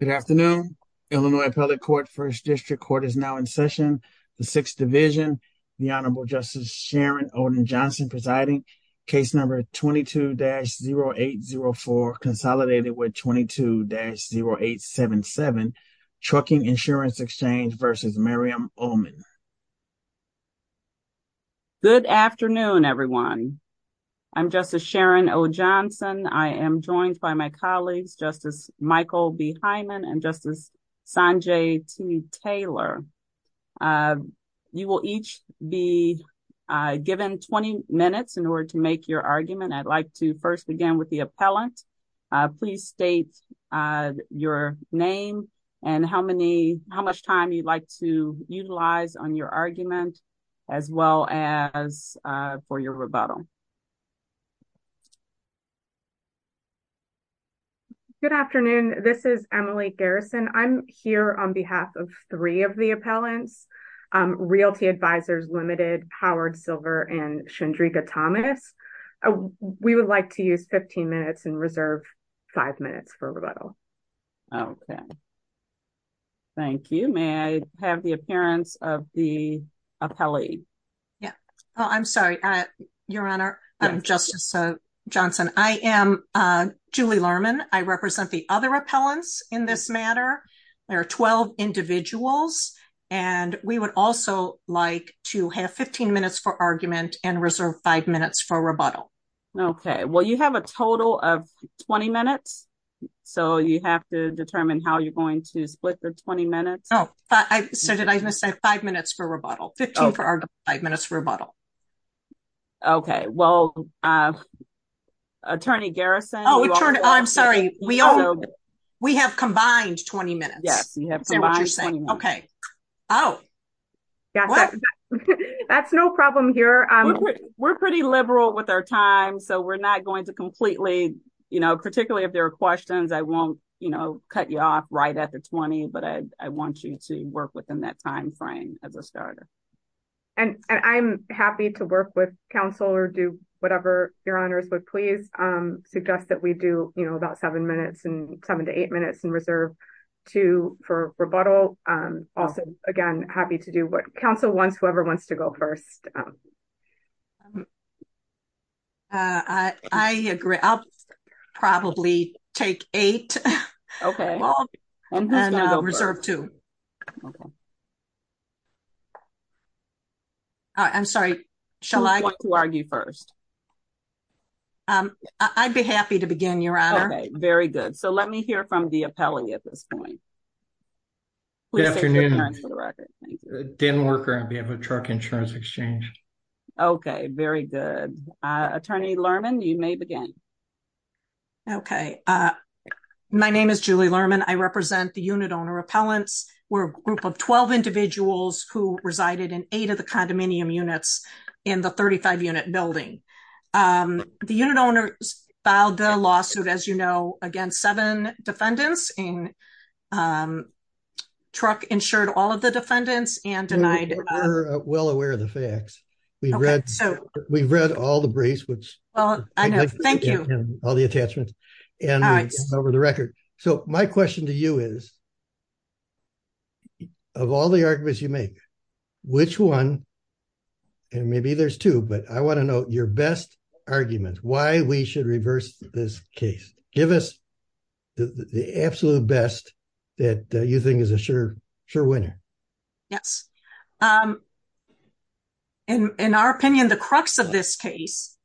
Good afternoon. Illinois Appellate Court, 1st District Court is now in session. The 6th Division, the Honorable Justice Sharon Oden Johnson presiding, case number 22-0804, consolidated with 22-0877, Trucking Insurance Exchange v. Miriam Ulman. Good afternoon, everyone. I'm Justice Sharon O. Johnson. I am joined by my colleagues, Justice Michael B. Hyman and Justice Sanjay T. Taylor. You will each be given 20 minutes in order to make your argument. I'd like to first begin with the appellant. Please state your name and how much time you'd like to utilize on your argument as well as for your rebuttal. Good afternoon. This is Emily Garrison. I'm here on behalf of three of the appellants, Realty Advisors Limited, Howard Silver, and Chandrika Thomas. We would like to use 15 minutes and reserve five minutes for rebuttal. Okay. Thank you. May I have the appearance of the appellee? I'm sorry, Your Honor. I'm Justice Johnson. I am Julie Lerman. I represent the other appellants in this matter. There are 12 individuals, and we would also like to have 15 minutes for argument and reserve five minutes for rebuttal. Okay. Well, you have a total of 20 minutes, so you have to determine how you're going to split the 20 minutes. So did I miss say five minutes for rebuttal? 15 minutes for argument and five minutes for rebuttal. Okay. Well, Attorney Garrison. Oh, I'm sorry. We have combined 20 minutes. Yes, we have combined 20 minutes. Okay. Oh. That's no problem here. We're pretty liberal with our time, so we're not going to completely, you know, particularly if there are questions, I won't, you know, cut you off right at the 20, but I want you to work within that time frame as a starter. And I'm happy to work with counsel or do whatever Your Honor's would please suggest that we do, you know, about seven minutes and seven to eight minutes and reserve two for rebuttal. Also, again, happy to do what counsel wants whoever wants to go first. I agree. I'll probably take eight. Okay. Reserve two. I'm sorry. Shall I argue first? I'd be happy to begin Your Honor. Very good. So let me hear from the appellee at this point. Good afternoon. Didn't work out being a truck insurance exchange. Okay, very good. Attorney Lerman, you may begin. Okay. My name is Julie Lerman I represent the unit owner appellants were a group of 12 individuals who resided in eight of the condominium units in the 35 unit building. The unit owners filed the lawsuit as you know, again seven defendants in truck insured all of the defendants and denied. We're well aware of the facts. We've read, we've read all the briefs which all the attachments and over the record. So my question to you is, of all the arguments you make, which one. And maybe there's two but I want to know your best arguments why we should reverse this case, give us the absolute best that you think is a sure, sure winner. Yes. In our opinion, the crux of this case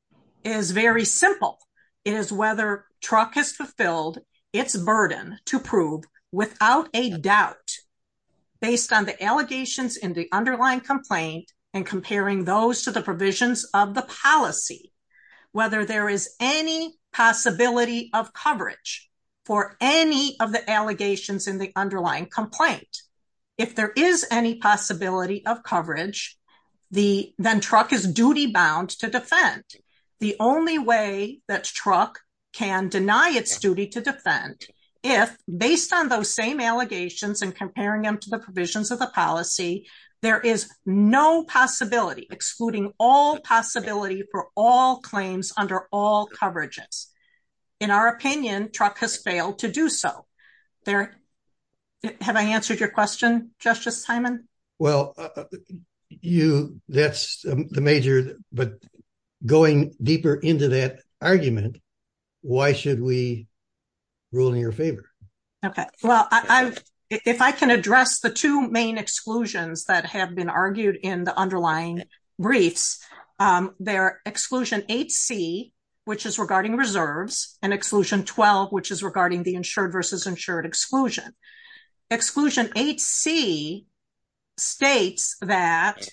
is very simple. It is whether truck has fulfilled its burden to prove without a doubt, based on the allegations in the underlying complaint and comparing those to the provisions of the policy, whether there is any possibility of coverage for any of the allegations in the underlying complaint. If there is any possibility of coverage. The then truck is duty bound to defend the only way that truck can deny its duty to defend. If, based on those same allegations and comparing them to the provisions of the policy, there is no possibility excluding all possibility for all claims under all coverages. In our opinion, truck has failed to do so. Have I answered your question, Justice Simon. Well, you, that's the major, but going deeper into that argument. Why should we rule in your favor. Okay, well, I, if I can address the two main exclusions that have been argued in the underlying briefs. Exclusion 8C, which is regarding reserves and exclusion 12, which is regarding the insured versus insured exclusion. Exclusion 8C states that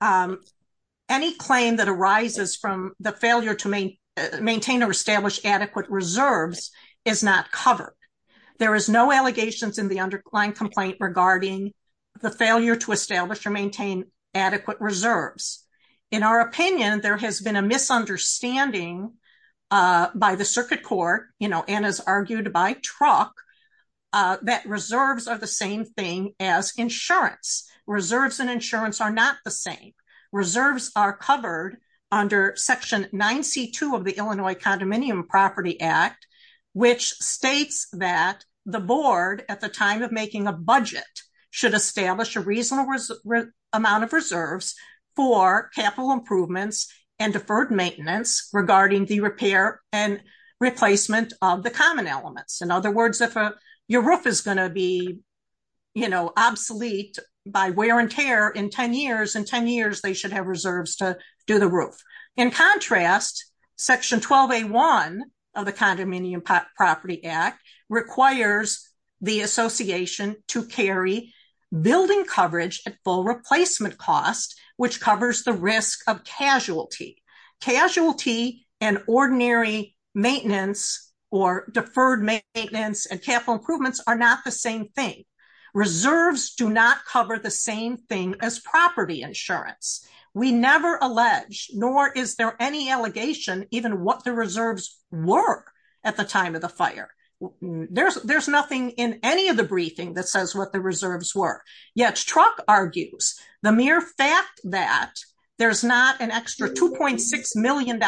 any claim that arises from the failure to maintain or establish adequate reserves is not covered. There is no allegations in the underlying complaint regarding the failure to establish or maintain adequate reserves. In our opinion, there has been a misunderstanding by the circuit court, you know, and as argued by truck that reserves are the same thing as insurance reserves and insurance are not the same. Reserves are covered under section 9C2 of the Illinois Condominium Property Act, which states that the board at the time of making a budget should establish a reasonable amount of reserves for capital improvements and deferred maintenance regarding the repair and replacement of the common elements. In other words, if your roof is going to be, you know, obsolete by wear and tear in 10 years, in 10 years they should have reserves to do the roof. In contrast, section 12A1 of the Condominium Property Act requires the association to carry building coverage at full replacement cost, which covers the risk of casualty. Casualty and ordinary maintenance or deferred maintenance and capital improvements are not the same thing. Reserves do not cover the same thing as property insurance. We never allege nor is there any allegation even what the reserves were at the time of the fire. There's nothing in any of the briefing that says what the reserves were. Yet, Truck argues the mere fact that there's not an extra $2.6 million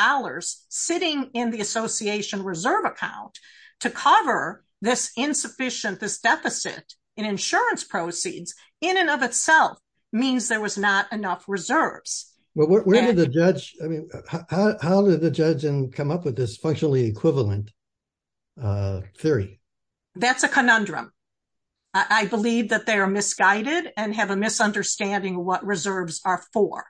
sitting in the association reserve account to cover this insufficient, this deficit in insurance proceeds in and of itself means there was not enough reserves. Well, where did the judge, I mean, how did the judge come up with this functionally equivalent theory? That's a conundrum. I believe that they are misguided and have a misunderstanding what reserves are for.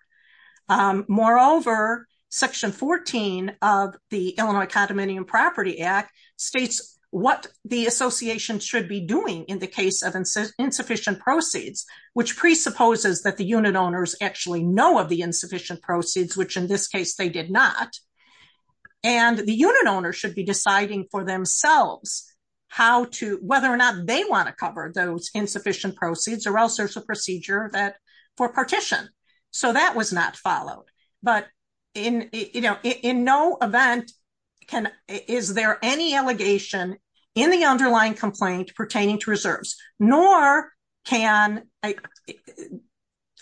Moreover, section 14 of the Illinois Condominium Property Act states what the association should be doing in the case of insufficient proceeds, which presupposes that the unit owners actually know of the insufficient proceeds, which in this case they did not. And the unit owner should be deciding for themselves whether or not they want to cover those insufficient proceeds or else there's a procedure for partition. So that was not followed. But in no event is there any allegation in the underlying complaint pertaining to reserves. Nor can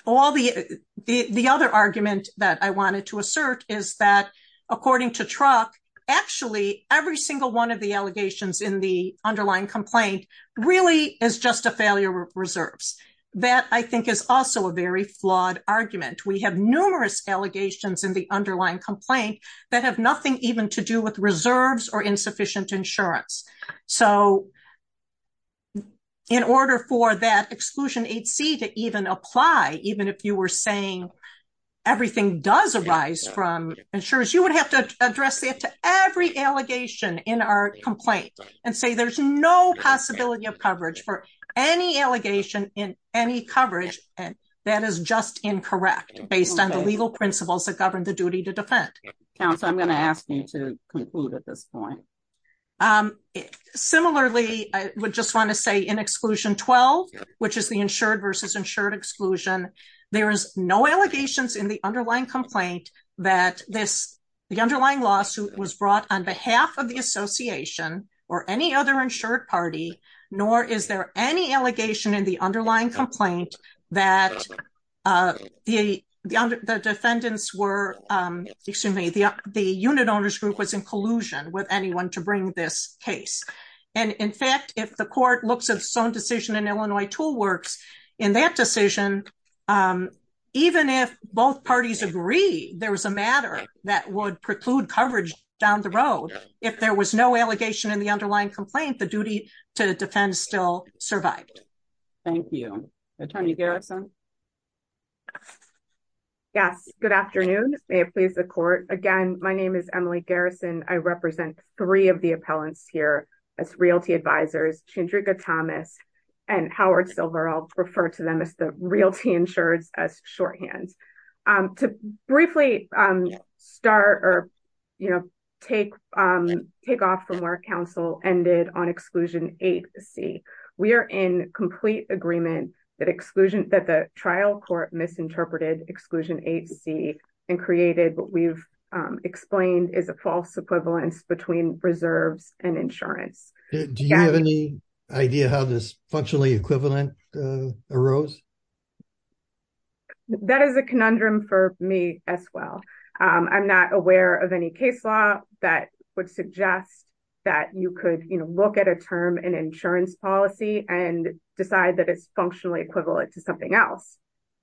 all the other argument that I wanted to assert is that, according to Truck, actually every single one of the allegations in the underlying complaint really is just a failure of reserves. That I think is also a very flawed argument. We have numerous allegations in the underlying complaint that have nothing even to do with reserves or insufficient insurance. So, in order for that exclusion 8C to even apply, even if you were saying everything does arise from insurance, you would have to address that to every allegation in our complaint and say there's no possibility of coverage for any allegation in any coverage. And that is just incorrect based on the legal principles that govern the duty to defend. Council, I'm going to ask you to conclude at this point. Similarly, I would just want to say in exclusion 12, which is the insured versus insured exclusion. There is no allegations in the underlying complaint that the underlying lawsuit was brought on behalf of the association or any other insured party, nor is there any allegation in the underlying complaint that the unit owners group was in collusion with anyone to bring this case. And in fact, if the court looks at its own decision in Illinois Tool Works, in that decision, even if both parties agree there was a matter that would preclude coverage down the road, if there was no allegation in the underlying complaint, the duty to defend still survived. Thank you. Attorney Garrison. Yes, good afternoon. May it please the court. Again, my name is Emily Garrison, I represent three of the appellants here as Realty Advisors, Chandrika Thomas, and Howard Silver, I'll refer to them as the Realty Insureds as shorthand. To briefly start or, you know, take off from where counsel ended on exclusion 8C. We are in complete agreement that the trial court misinterpreted exclusion 8C and created what we've explained is a false equivalence between reserves and insurance. Do you have any idea how this functionally equivalent arose? That is a conundrum for me as well. I'm not aware of any case law that would suggest that you could, you know, look at a term and insurance policy and decide that it's functionally equivalent to something else.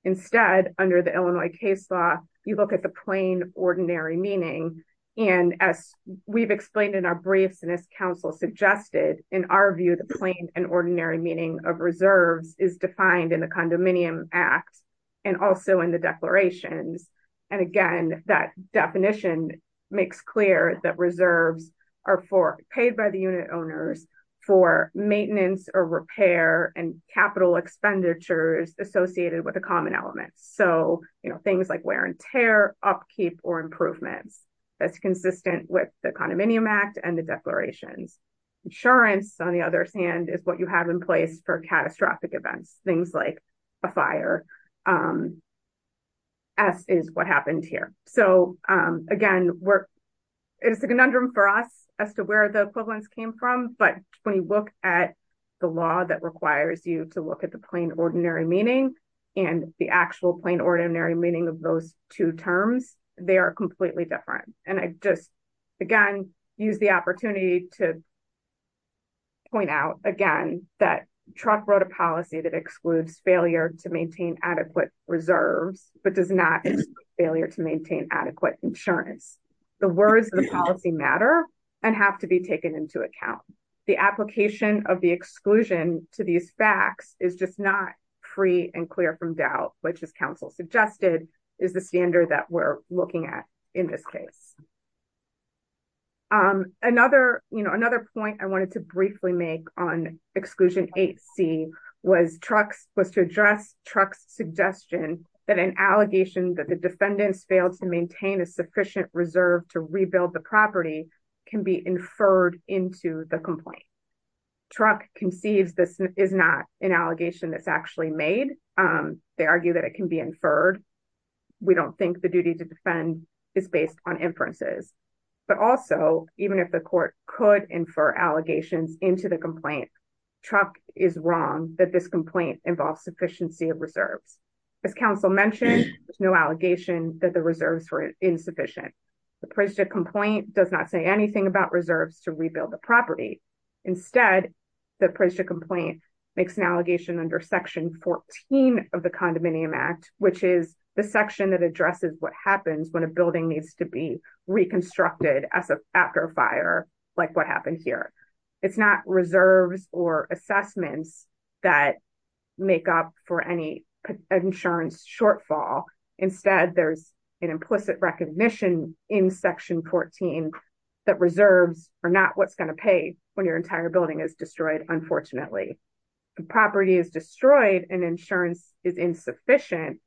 Instead, under the Illinois case law, you look at the plain ordinary meaning. And as we've explained in our briefs and as counsel suggested, in our view the plain and ordinary meaning of reserves is defined in the Condominium Act, and also in the declarations. And again, that definition makes clear that reserves are paid by the unit owners for maintenance or repair and capital expenditures associated with a common element. So, you know, things like wear and tear, upkeep or improvements. That's consistent with the Condominium Act and the declarations. Insurance, on the other hand, is what you have in place for catastrophic events, things like a fire. S is what happened here. So, again, it's a conundrum for us as to where the equivalence came from, but when you look at the law that requires you to look at the plain ordinary meaning and the actual plain ordinary meaning of those two terms, they are completely different. And I just, again, use the opportunity to point out, again, that Truck wrote a policy that excludes failure to maintain adequate reserves, but does not exclude failure to maintain adequate insurance. The words of the policy matter and have to be taken into account. The application of the exclusion to these facts is just not free and clear from doubt, which as counsel suggested is the standard that we're looking at in this case. Another, you know, another point I wanted to briefly make on Exclusion 8C was Truck's, was to address Truck's suggestion that an allegation that the defendants failed to maintain a sufficient reserve to rebuild the property can be inferred into the complaint. Truck conceives this is not an allegation that's actually made. They argue that it can be inferred. We don't think the duty to defend is based on inferences. But also, even if the court could infer allegations into the complaint, Truck is wrong that this complaint involves sufficiency of reserves. As counsel mentioned, there's no allegation that the reserves were insufficient. The Prisja complaint does not say anything about reserves to rebuild the property. Instead, the Prisja complaint makes an allegation under Section 14 of the Condominium Act, which is the section that addresses what happens when a building needs to be reconstructed after a fire, like what happened here. It's not reserves or assessments that make up for any insurance shortfall. Instead, there's an implicit recognition in Section 14 that reserves are not what's going to pay when your entire building is destroyed, unfortunately. If a property is destroyed and insurance is insufficient,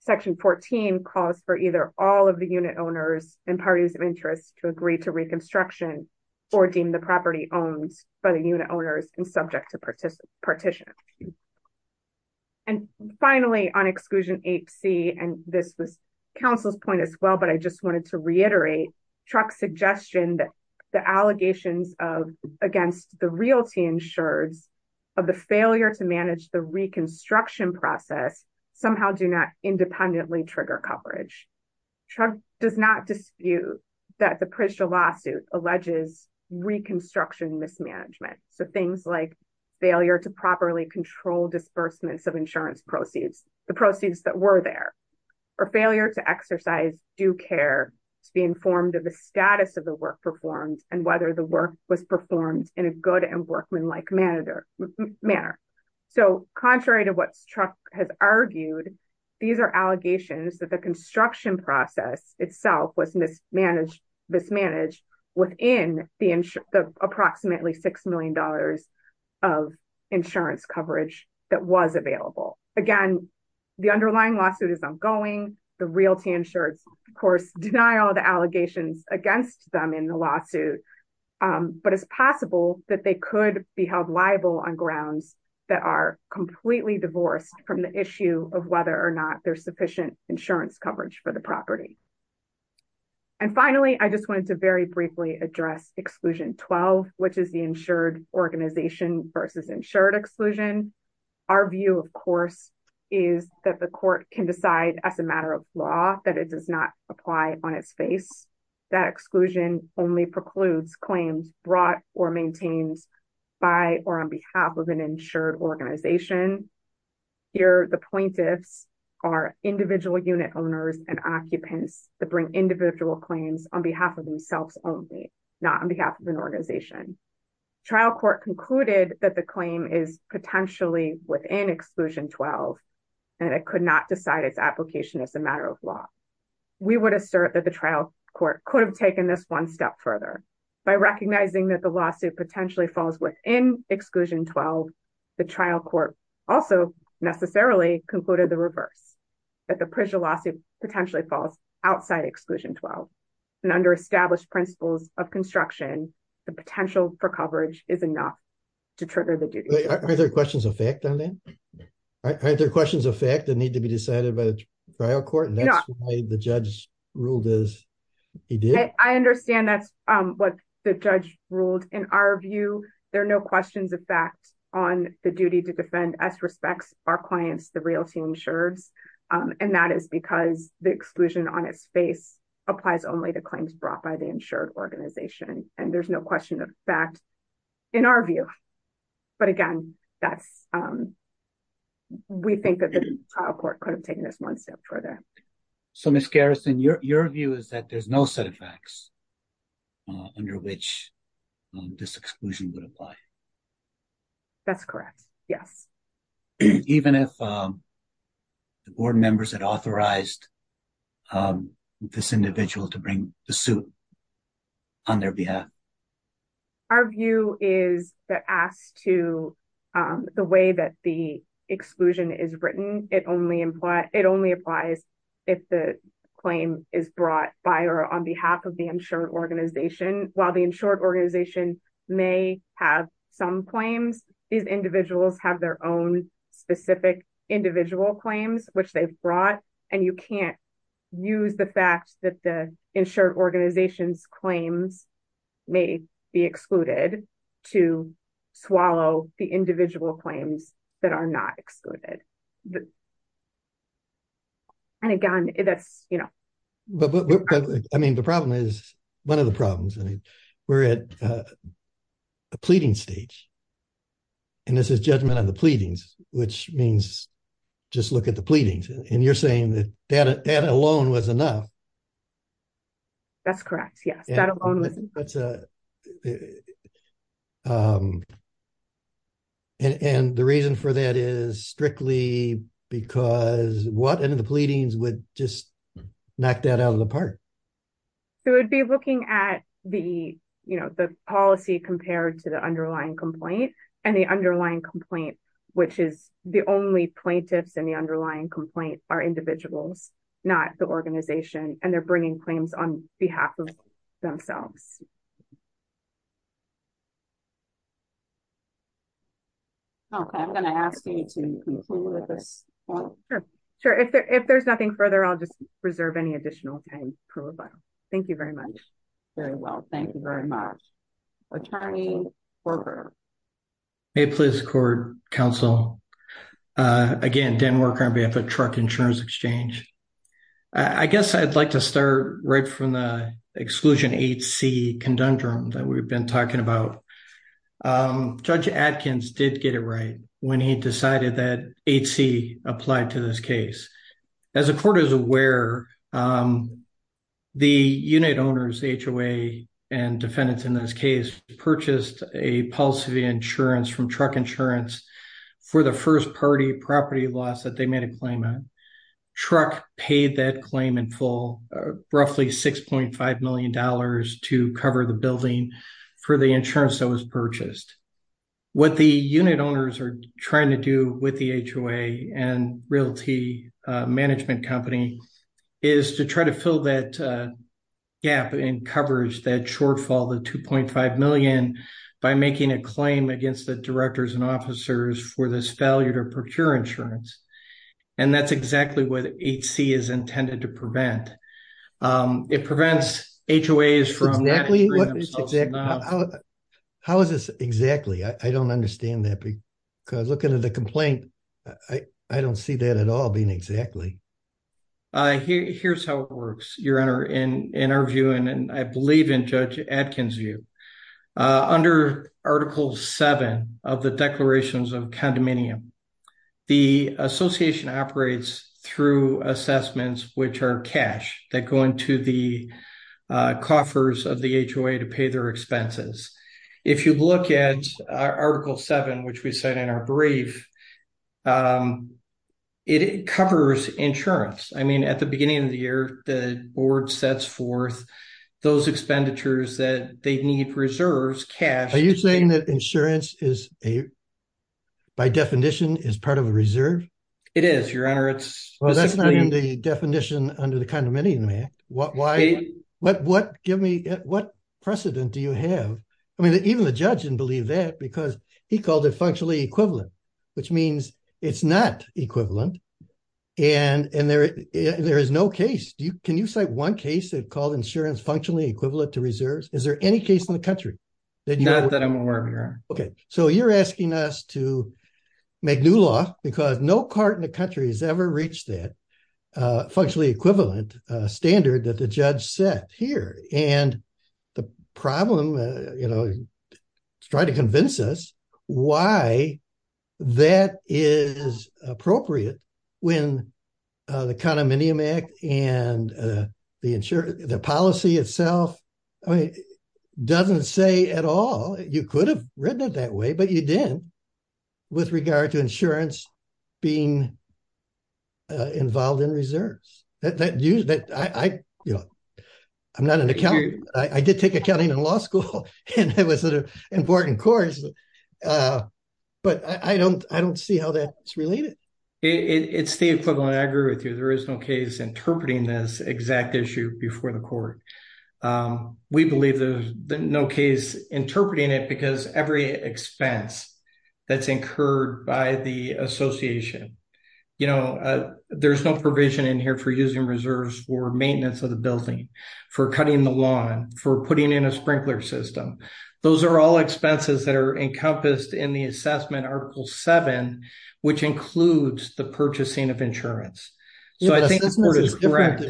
Section 14 calls for either all of the unit owners and parties of interest to agree to reconstruction or deem the property owned by the unit owners and subject to partition. And finally, on Exclusion 8c, and this was counsel's point as well, but I just wanted to reiterate, Truck's suggestion that the allegations against the realty insureds of the failure to manage the reconstruction process somehow do not independently trigger coverage. Truck does not dispute that the Prisja lawsuit alleges reconstruction mismanagement, so things like failure to properly control disbursements of insurance proceeds, the proceeds that were there, or failure to exercise due care to be informed of the status of the work performed and whether the work was performed in a good and workmanlike manner. So, contrary to what Truck has argued, these are allegations that the construction process itself was mismanaged within the approximately $6 million of insurance coverage that was available. Again, the underlying lawsuit is ongoing. The realty insureds, of course, deny all the allegations against them in the lawsuit, but it's possible that they could be held liable on grounds that are completely divorced from the issue of whether or not there's sufficient insurance coverage for the property. And finally, I just wanted to very briefly address Exclusion 12, which is the insured organization versus insured exclusion. Our view, of course, is that the court can decide as a matter of law that it does not apply on its face. That exclusion only precludes claims brought or maintained by or on behalf of an insured organization. Here, the plaintiffs are individual unit owners and occupants that bring individual claims on behalf of themselves only, not on behalf of an organization. Trial court concluded that the claim is potentially within Exclusion 12, and it could not decide its application as a matter of law. We would assert that the trial court could have taken this one step further by recognizing that the lawsuit potentially falls within Exclusion 12. The trial court also necessarily concluded the reverse, that the PRISA lawsuit potentially falls outside Exclusion 12, and under established principles of construction, the potential for coverage is enough to trigger the duty. Are there questions of fact on that? Are there questions of fact that need to be decided by the trial court, and that's why the judge ruled as he did? I understand that's what the judge ruled. In our view, there are no questions of fact on the duty to defend as respects our clients, the realty insureds, and that is because the exclusion on its face applies only to claims brought by the insured organization, and there's no question of fact in our view. But again, we think that the trial court could have taken this one step further. So, Ms. Garrison, your view is that there's no set of facts under which this exclusion would apply? That's correct, yes. Even if the board members had authorized this individual to bring the suit on their behalf? Our view is that as to the way that the exclusion is written, it only applies if the claim is brought by or on behalf of the insured organization. While the insured organization may have some claims, these individuals have their own specific individual claims, which they've brought, and you can't use the fact that the insured organization's claims may be excluded to swallow the individual claims that are not excluded. And again, that's, you know. I mean, the problem is, one of the problems, we're at a pleading stage, and this is judgment on the pleadings, which means just look at the pleadings, and you're saying that that alone was enough. That's correct, yes, that alone was enough. And the reason for that is strictly because what in the pleadings would just knock that out of the park? It would be looking at the, you know, the policy compared to the underlying complaint, and the underlying complaint, which is the only plaintiffs in the underlying complaint are individuals, not the organization, and they're bringing claims on behalf of themselves. Okay, I'm going to ask you to conclude with this. Sure, if there's nothing further, I'll just reserve any additional time. Thank you very much. Very well, thank you very much. Attorney Korger. May it please the court, counsel. Again, Dan Worker on behalf of Truck Insurance Exchange. I guess I'd like to start right from the exclusion 8C conundrum that we've been talking about. Judge Adkins did get it right when he decided that 8C applied to this case. As the court is aware, the unit owners HOA and defendants in this case purchased a policy insurance from Truck Insurance for the first party property loss that they made a claim on. Truck paid that claim in full, roughly $6.5 million to cover the building for the insurance that was purchased. What the unit owners are trying to do with the HOA and realty management company is to try to fill that gap in coverage, that shortfall, the $2.5 million, by making a claim against the directors and officers for this failure to procure insurance. And that's exactly what 8C is intended to prevent. It prevents HOAs from… How is this exactly? I don't understand that. Because looking at the complaint, I don't see that at all being exactly. Here's how it works, Your Honor, in our view, and I believe in Judge Adkins' view. Under Article 7 of the Declarations of Condominium, the association operates through assessments, which are cash that go into the coffers of the HOA to pay their expenses. If you look at Article 7, which we said in our brief, it covers insurance. I mean, at the beginning of the year, the board sets forth those expenditures that they need reserves, cash. Are you saying that insurance is, by definition, is part of a reserve? It is, Your Honor. Well, that's not in the definition under the Condominium Act. What precedent do you have? I mean, even the judge didn't believe that because he called it functionally equivalent, which means it's not equivalent. And there is no case. Can you cite one case that called insurance functionally equivalent to reserves? Is there any case in the country? Not that I'm aware of, Your Honor. Okay, so you're asking us to make new law because no court in the country has ever reached that functionally equivalent standard that the judge set here. And the problem, you know, is trying to convince us why that is appropriate when the Condominium Act and the policy itself doesn't say at all. You could have written it that way, but you didn't with regard to insurance being involved in reserves. I'm not an accountant. I did take accounting in law school, and it was an important course, but I don't see how that's related. It's the equivalent. I agree with you. There is no case interpreting this exact issue before the court. We believe there's no case interpreting it because every expense that's incurred by the association, you know, there's no provision in here for using reserves for maintenance of the building, for cutting the lawn, for putting in a sprinkler system. Those are all expenses that are encompassed in the assessment Article 7, which includes the purchasing of insurance. So I think the court is correct.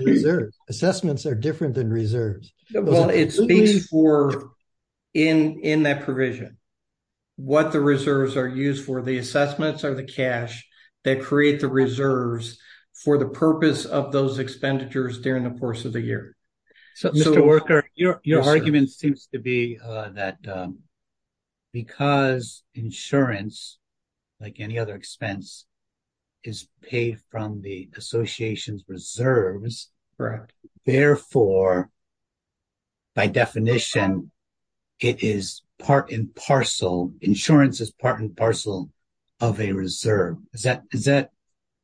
Assessments are different than reserves. Well, it speaks for, in that provision, what the reserves are used for. The assessments are the cash that create the reserves for the purpose of those expenditures during the course of the year. Mr. Worker, your argument seems to be that because insurance, like any other expense, is paid from the association's reserves, therefore, by definition, it is part and parcel, insurance is part and parcel of a reserve.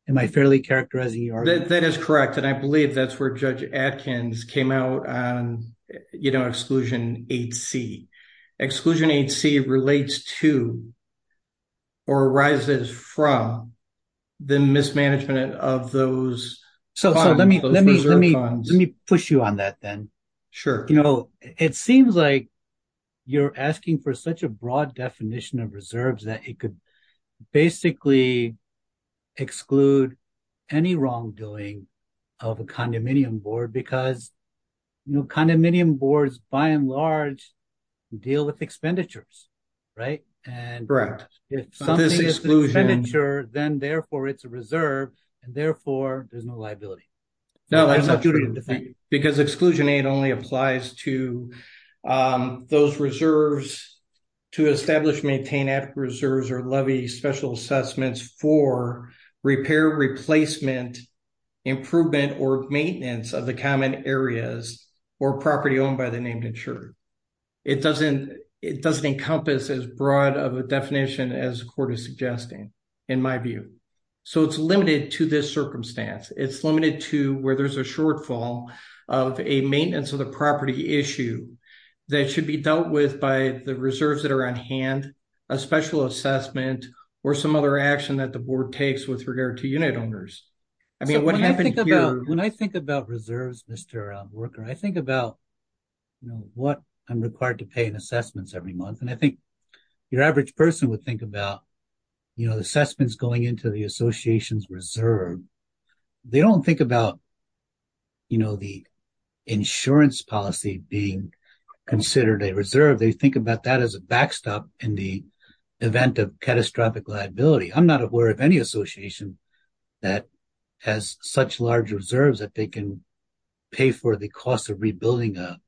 Am I fairly characterizing your argument? That is correct, and I believe that's where Judge Adkins came out on Exclusion 8C. Exclusion 8C relates to or arises from the mismanagement of those funds, those reserve funds. So let me push you on that then. Sure. You know, it seems like you're asking for such a broad definition of reserves that it could basically exclude any wrongdoing of a condominium board, because, you know, condominium boards, by and large, deal with expenditures, right? Correct. If something is an expenditure, then, therefore, it's a reserve, and, therefore, there's no liability. No, that's not true. Because Exclusion 8 only applies to those reserves to establish, maintain after reserves or levy special assessments for repair, replacement, improvement, or maintenance of the common areas or property owned by the named insurer. It doesn't encompass as broad of a definition as the court is suggesting, in my view. So it's limited to this circumstance. It's limited to where there's a shortfall of a maintenance of the property issue that should be dealt with by the reserves that are on hand, a special assessment, or some other action that the board takes with regard to unit owners. When I think about reserves, Mr. Worker, I think about, you know, what I'm required to pay in assessments every month. And I think your average person would think about, you know, assessments going into the association's reserve. They don't think about, you know, the insurance policy being considered a reserve. They think about that as a backstop in the event of catastrophic liability. I'm not aware of any association that has such large reserves that they can pay for the cost of rebuilding a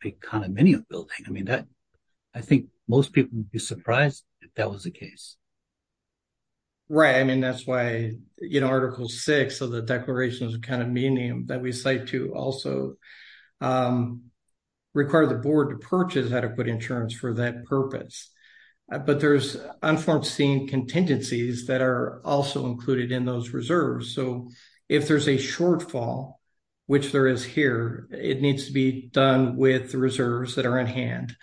big condominium building. I mean, I think most people would be surprised if that was the case. Right. I mean, that's why, you know, Article 6 of the Declaration of the Condominium that we cite to also require the board to purchase adequate insurance for that purpose. But there's unforeseen contingencies that are also included in those reserves. So, if there's a shortfall, which there is here, it needs to be done with the reserves that are in hand,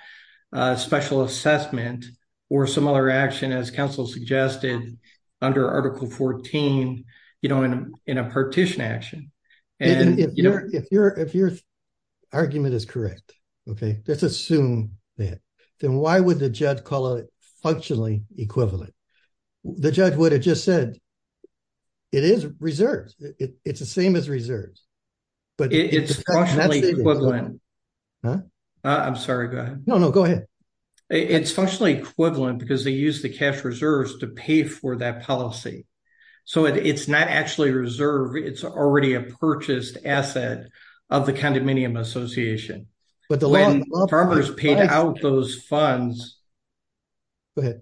special assessment, or some other action as council suggested under Article 14, you know, in a partition action. If your argument is correct, okay, let's assume that. Then why would the judge call it functionally equivalent? The judge would have just said it is reserves. It's the same as reserves. It's functionally equivalent. I'm sorry, go ahead. No, no, go ahead. It's functionally equivalent because they use the cash reserves to pay for that policy. So, it's not actually a reserve. It's already a purchased asset of the Condominium Association. When farmers paid out those funds. Go ahead.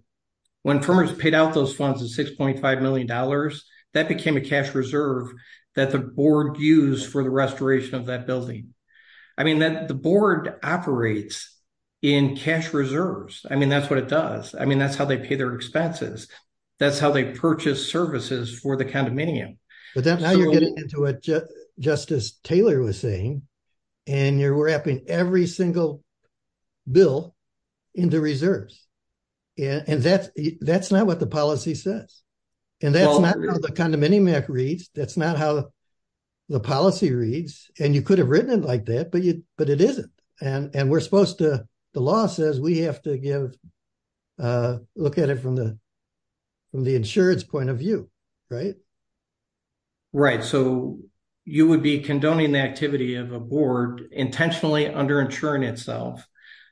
When farmers paid out those funds at $6.5 million, that became a cash reserve that the board used for the restoration of that building. I mean, the board operates in cash reserves. I mean, that's what it does. I mean, that's how they pay their expenses. That's how they purchase services for the condominium. But that's how you're getting into it, just as Taylor was saying. And you're wrapping every single bill into reserves. And that's not what the policy says. And that's not how the condominium act reads. That's not how the policy reads. And you could have written it like that, but it isn't. The law says we have to look at it from the insurance point of view, right? Right. So, you would be condoning the activity of a board intentionally underinsuring itself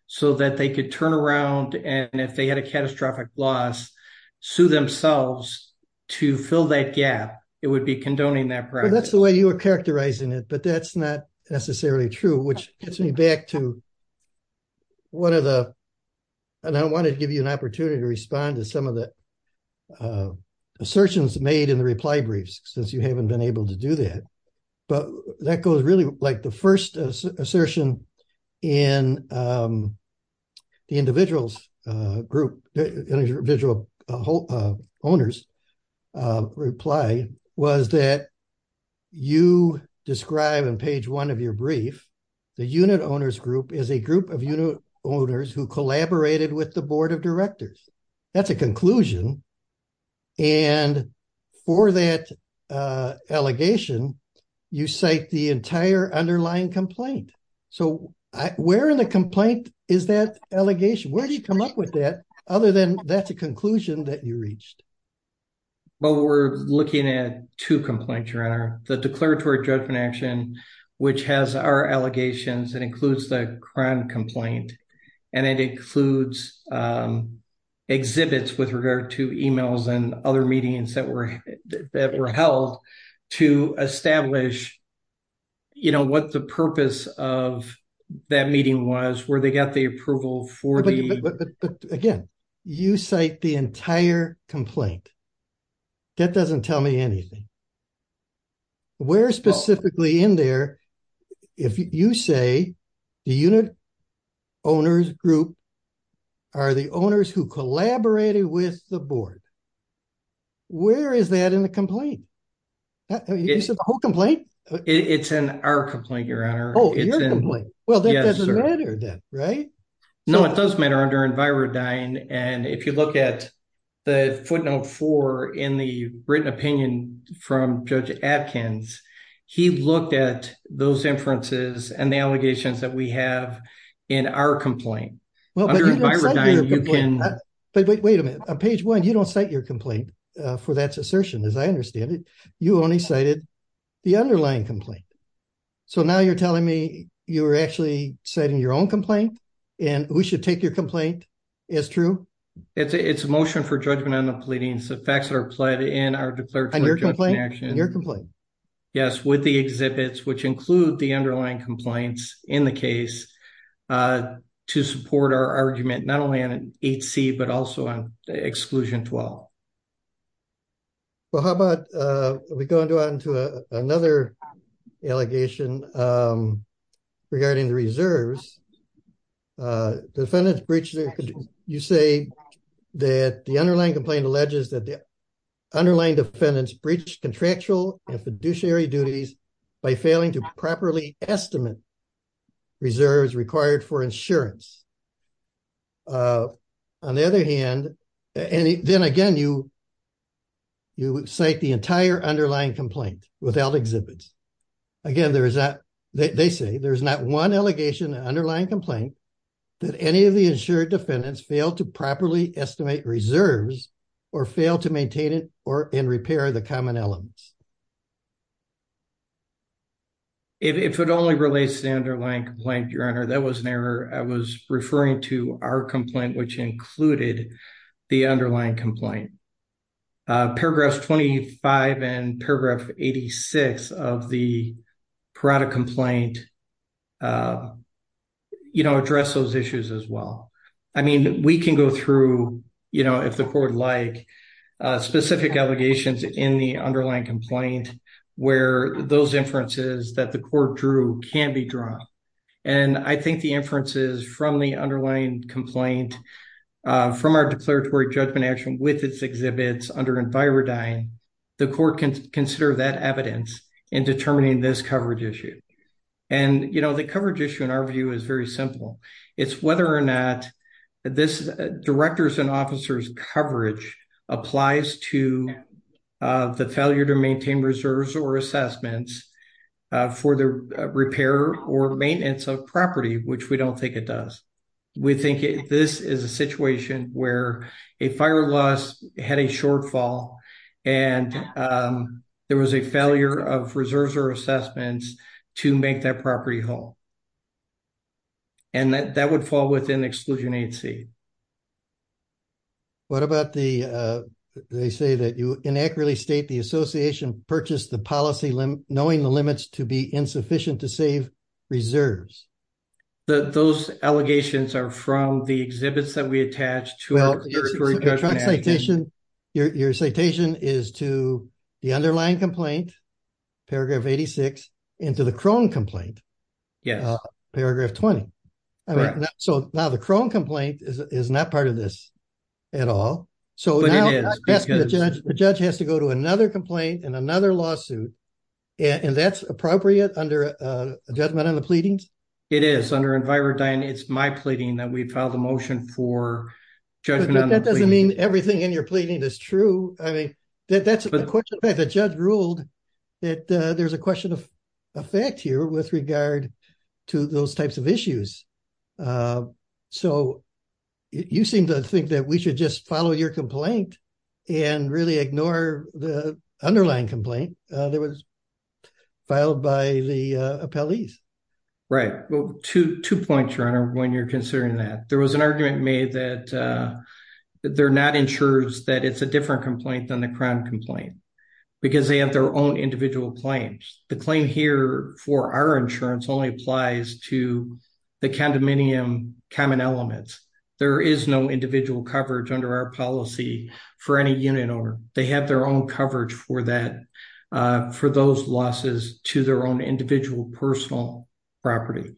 so that they could turn around and if they had a catastrophic loss, sue themselves to fill that gap. It would be condoning that practice. That's the way you were characterizing it, but that's not necessarily true, which gets me back to one of the. And I wanted to give you an opportunity to respond to some of the assertions made in the reply briefs, since you haven't been able to do that. But that goes really like the 1st assertion in. Individuals group, individual owners. Reply was that. You describe and page 1 of your brief. The unit owners group is a group of unit owners who collaborated with the board of directors. That's a conclusion. And for that allegation, you say the entire underlying complaint. So, where in the complaint is that allegation? Where do you come up with that? Other than that's a conclusion that you reached. But we're looking at 2 complaints are the declaratory judgment action, which has our allegations and includes the crime complaint and it includes. Exhibits with regard to emails and other meetings that were that were held to establish. You know, what the purpose of that meeting was where they got the approval for the again. You cite the entire complaint. That doesn't tell me anything where specifically in there. If you say the unit. Owners group are the owners who collaborated with the board. Where is that in the complaint? You said the whole complaint, it's in our complaint. Your honor. Well, that doesn't matter. Right? No, it does matter under environment. And if you look at. The footnote for in the written opinion from judge Atkins, he looked at those inferences and the allegations that we have in our complaint. Well, you can wait a minute on page 1, you don't cite your complaint for that assertion. As I understand it, you only cited. The underlying complaint. So, now you're telling me you're actually setting your own complaint. And we should take your complaint. Is true. It's a motion for judgment on the pleading. So facts that are applied in our declared action. Yes, with the exhibits, which include the underlying complaints in the case. To support our argument, not only on an 8C, but also on exclusion 12. Well, how about we go on to another. Allegation regarding the reserves. Defendants breach, you say that the underlying complaint alleges that. Underlying defendants breach contractual and fiduciary duties. By failing to properly estimate reserves required for insurance. On the other hand, and then again, you. You would say the entire underlying complaint without exhibits. Again, there is that they say there's not 1 allegation underlying complaint. That any of the insured defendants fail to properly estimate reserves. Or fail to maintain it, or in repair the common elements. If it only relates to the underlying complaint, your honor, that was an error. I was referring to our complaint, which included the underlying complaint. Paragraphs 25 and paragraph 86 of the product complaint. You know, address those issues as well. I mean, we can go through. You know, if the court like specific allegations in the underlying complaint, where those inferences that the court drew can be drawn. And I think the inferences from the underlying complaint. From our declaratory judgment action with its exhibits under environment. The court can consider that evidence in determining this coverage issue. And, you know, the coverage issue in our view is very simple. It's whether or not. Directors and officers coverage applies to the failure to maintain reserves or assessments. For the repair or maintenance of property, which we don't think it does. We think this is a situation where a fire loss had a shortfall. And there was a failure of reserves or assessments to make that property whole. And that would fall within exclusion agency. What about the, they say that you inaccurately state the association purchased the policy knowing the limits to be insufficient to save. Reserves that those allegations are from the exhibits that we attach to your citation is to the underlying complaint. Paragraph 86 into the chrome complaint. Yeah, paragraph 20. So, now the chrome complaint is not part of this. At all, so the judge has to go to another complaint and another lawsuit. And that's appropriate under a judgment on the pleadings. It is under environment. It's my pleading that we filed a motion for judgment. That doesn't mean everything in your pleading is true. I mean. That's the question that the judge ruled that there's a question of effect here with regard to those types of issues. So, you seem to think that we should just follow your complaint and really ignore the underlying complaint that was filed by the police. Right. Well, to 2 points runner when you're considering that there was an argument made that they're not ensures that it's a different complaint than the crown complaint, because they have their own individual claims. The claim here for our insurance only applies to the condominium common elements. There is no individual coverage under our policy for any unit or they have their own coverage for that for those losses to their own individual personal property.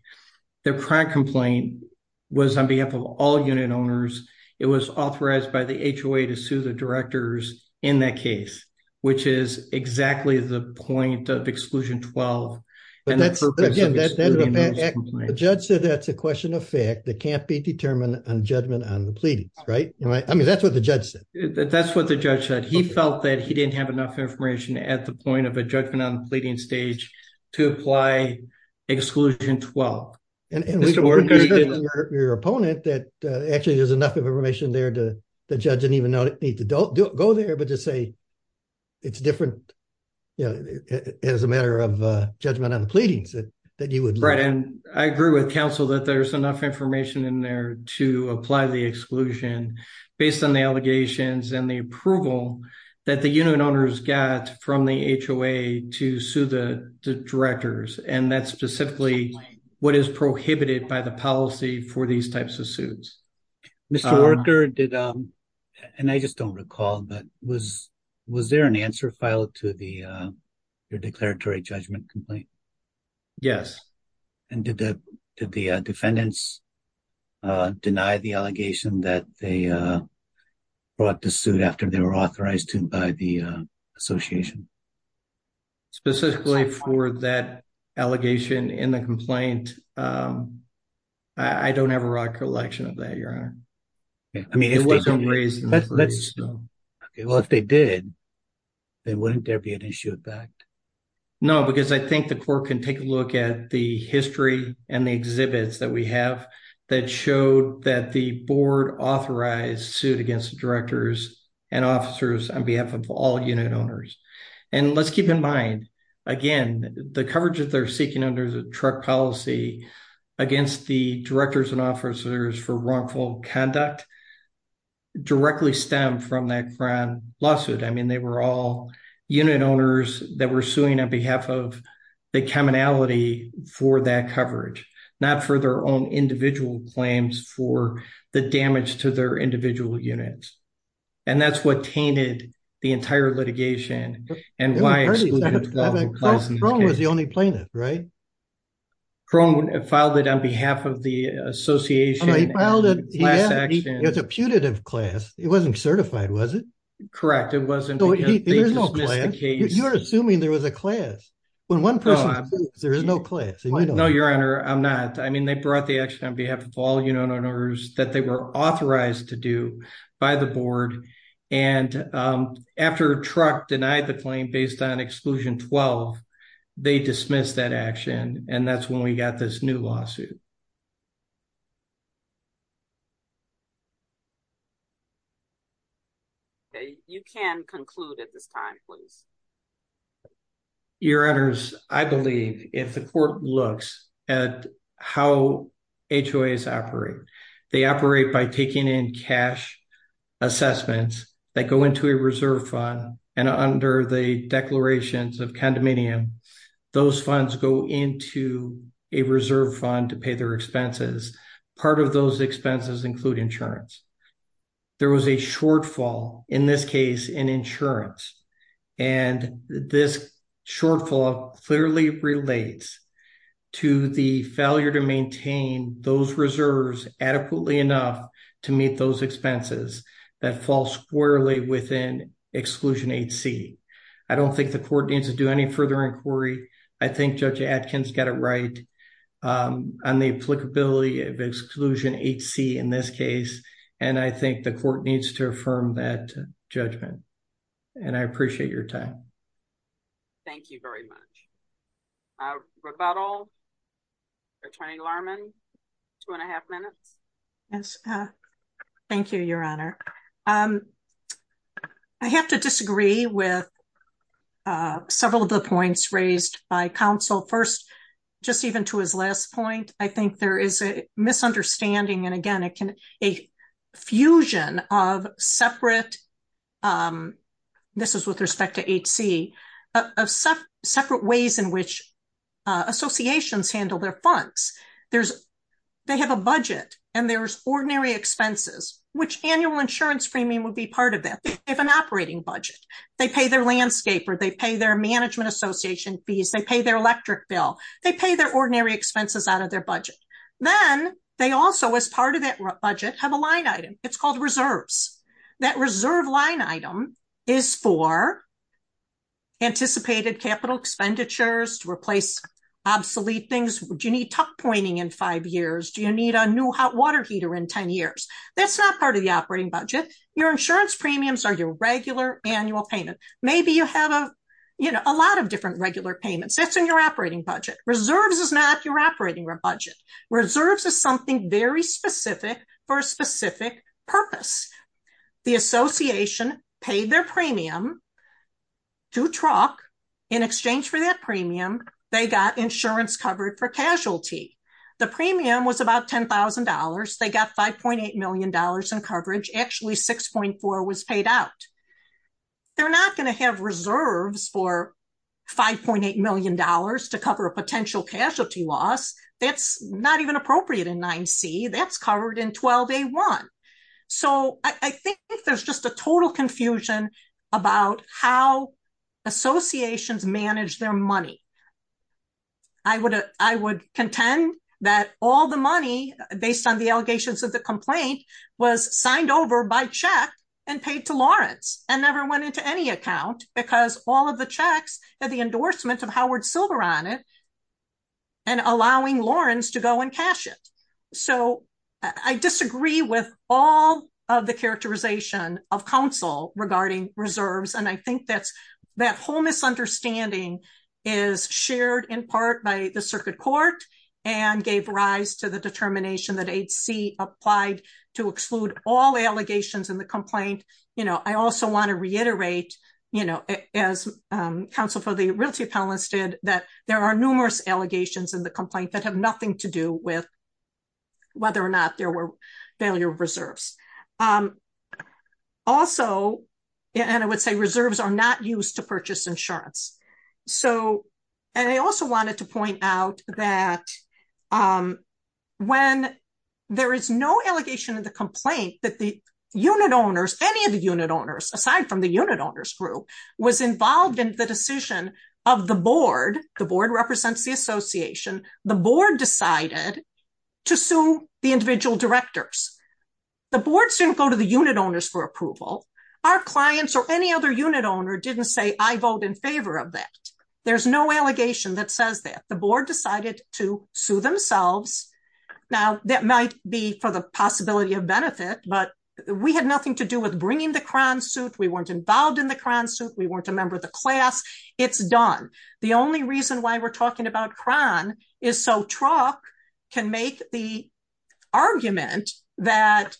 Their crime complaint was on behalf of all unit owners. It was authorized by the to sue the directors in that case, which is exactly the point of exclusion 12. The judge said that's a question of fact that can't be determined on judgment on the pleading. Right? I mean, that's what the judge said. That's what the judge said. He felt that he didn't have enough information at the point of a judgment on pleading stage to apply exclusion 12. And your opponent that actually, there's enough information there to the judge and even know that need to go there, but just say, it's different. Yeah, as a matter of judgment on the pleadings that you would write and I agree with counsel that there's enough information in there to apply the exclusion, based on the allegations and the approval that the unit owners got from the HOA to sue the directors. And that's specifically what is prohibited by the policy for these types of suits. Mr. Walker did and I just don't recall, but was, was there an answer file to the declaratory judgment complaint? Yes. And did the defendants deny the allegation that they brought the suit after they were authorized to buy the association. Specifically for that allegation in the complaint. I don't have a recollection of that. Your honor. I mean, it wasn't raised. Well, if they did. They wouldn't there be an issue with that. No, because I think the court can take a look at the history and the exhibits that we have that showed that the board authorized suit against directors and officers on behalf of all unit owners. And let's keep in mind, again, the coverage that they're seeking under the truck policy against the directors and officers for wrongful conduct directly stem from that grand lawsuit. I mean, they were all unit owners that were suing on behalf of the commonality for that coverage, not for their own individual claims for the damage to their individual units. And that's what tainted the entire litigation. And why was the only plaintiff. Right. Crone filed it on behalf of the association. It's a putative class. It wasn't certified. Was it. Correct. It wasn't. You're assuming there was a class. There is no class. No, your honor. I'm not. I mean, they brought the action on behalf of all unit owners that they were authorized to do by the board. And after truck denied the claim based on exclusion 12. They dismiss that action, and that's when we got this new lawsuit. You can conclude at this time, please. Your honors, I believe if the court looks at how. They operate by taking in cash assessments that go into a reserve fund. And under the declarations of condominium, those funds go into a reserve fund to pay their expenses. Part of those expenses include insurance. There was a shortfall in this case in insurance. And this shortfall clearly relates to the failure to maintain those reserves adequately enough to meet those expenses that fall squarely within exclusion. I don't think the court needs to do any further inquiry. I think Judge Atkins got it right on the applicability of exclusion HC in this case. And I think the court needs to affirm that judgment. And I appreciate your time. Thank you very much. Rebuttal. Attorney Lerman. Two and a half minutes. Yes. Thank you, your honor. I have to disagree with several of the points raised by counsel first, just even to his last point. I think there is a misunderstanding. And again, it can a fusion of separate. This is with respect to HC of separate ways in which associations handle their funds. They have a budget, and there's ordinary expenses, which annual insurance premium will be part of that. They have an operating budget. They pay their landscape, or they pay their management association fees. They pay their electric bill. They pay their ordinary expenses out of their budget. Then they also, as part of that budget, have a line item. It's called reserves. That reserve line item is for anticipated capital expenditures to replace obsolete things. Do you need tuck pointing in five years? Do you need a new hot water heater in 10 years? That's not part of the operating budget. Your insurance premiums are your regular annual payment. Maybe you have a lot of different regular payments. That's in your operating budget. Reserves is not your operating budget. Reserves is something very specific for a specific purpose. The association paid their premium to truck. In exchange for that premium, they got insurance covered for casualty. The premium was about $10,000. They got $5.8 million in coverage. Actually, 6.4 was paid out. They're not going to have reserves for $5.8 million to cover a potential casualty loss. That's not even appropriate in 9C. That's covered in 12A1. I think there's just a total confusion about how associations manage their money. I would contend that all the money, based on the allegations of the complaint, was signed over by check and paid to Lawrence and never went into any account because all of the checks had the endorsement of Howard Silver on it and allowing Lawrence to go and cash it. I disagree with all of the characterization of counsel regarding reserves. I think that whole misunderstanding is shared in part by the circuit court and gave rise to the determination that 8C applied to exclude all allegations in the complaint. I also want to reiterate, as counsel for the Realty Panelists did, that there are numerous allegations in the complaint that have nothing to do with whether or not there were failure of reserves. Also, and I would say reserves are not used to purchase insurance. I also wanted to point out that when there is no allegation in the complaint that any of the unit owners, aside from the unit owners group, was involved in the decision of the board, the board represents the association, the board decided to sue the individual directors. The board didn't go to the unit owners for approval. Our clients or any other unit owner didn't say, I vote in favor of that. There's no allegation that says that. The board decided to sue themselves. Now, that might be for the possibility of benefit, but we had nothing to do with bringing the Krohn suit. We weren't involved in the Krohn suit. We weren't a member of the class. It's done. The only reason why we're talking about Krohn is so Truk can make the argument that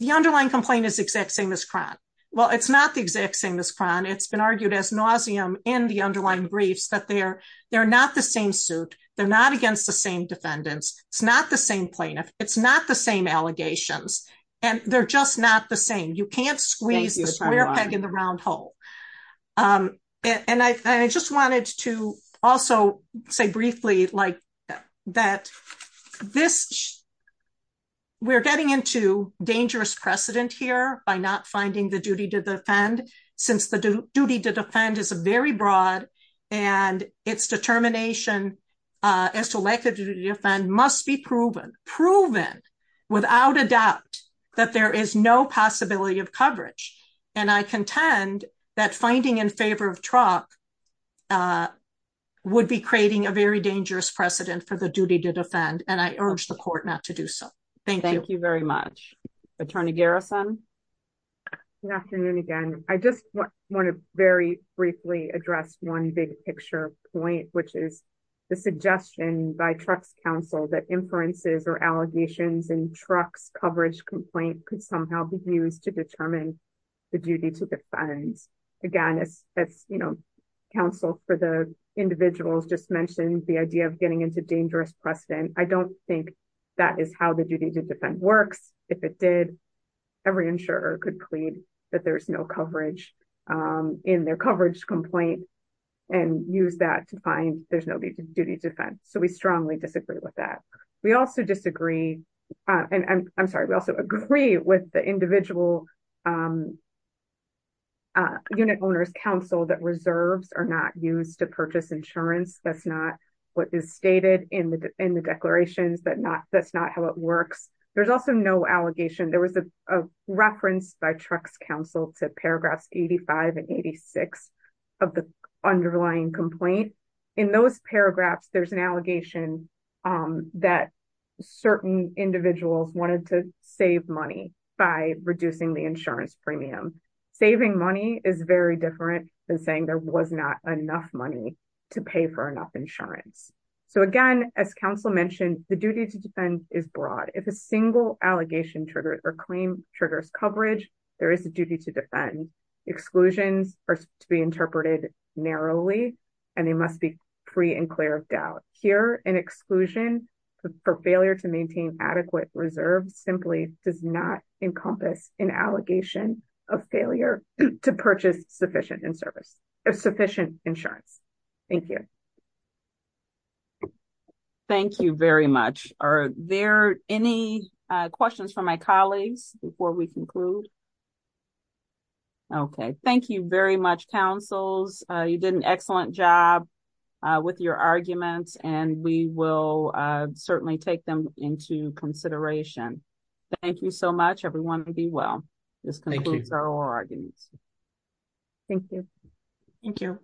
the underlying complaint is the exact same as Krohn. Well, it's not the exact same as Krohn. It's been argued as nauseam in the underlying briefs that they're not the same suit. They're not against the same defendants. It's not the same plaintiff. It's not the same allegations. And they're just not the same. You can't squeeze the square peg in the round hole. And I just wanted to also say briefly that this, we're getting into dangerous precedent here by not finding the duty to defend, since the duty to defend is a very broad and its determination as to lack of duty to defend must be proven, proven without a doubt that there is no possibility of coverage. And I contend that finding in favor of Truk would be creating a very dangerous precedent for the duty to defend. And I urge the court not to do so. Thank you. Thank you very much. Attorney Garrison. Good afternoon again. I just want to very briefly address one big picture point, which is the suggestion by Truk's counsel that inferences or allegations and Truk's coverage complaint could somehow be used to determine the duty to defend. Again, it's, it's, you know, counsel for the individuals just mentioned the idea of getting into dangerous precedent. I don't think that is how the duty to defend works. If it did every insurer could plead that there's no coverage in their coverage complaint and use that to find there's no duty to defend. So we strongly disagree with that. We also disagree. And I'm sorry. We also agree with the individual unit owners council that reserves are not used to purchase insurance. That's not what is stated in the, in the declarations that not that's not how it works. There's also no allegation. There was a reference by Truk's counsel to paragraphs, 85 and 86 of the underlying complaint in those paragraphs, there's an allegation that certain individuals wanted to save money by reducing the insurance premium, saving money is very different than saying there was not enough money to pay for enough insurance. So again, as counsel mentioned, the duty to defend is broad. If a single allegation triggers or claim triggers coverage, there is a duty to defend exclusions are to be interpreted narrowly. And they must be free and clear of doubt here and exclusion for failure to maintain adequate reserves simply does not encompass an allegation of failure to purchase sufficient and service sufficient insurance. Thank you. Thank you very much. Are there any questions from my colleagues before we conclude? Okay. Thank you very much councils. You did an excellent job with your arguments and we will certainly take them into consideration. Thank you so much, everyone. Be well, this concludes our arguments. Thank you. Thank you.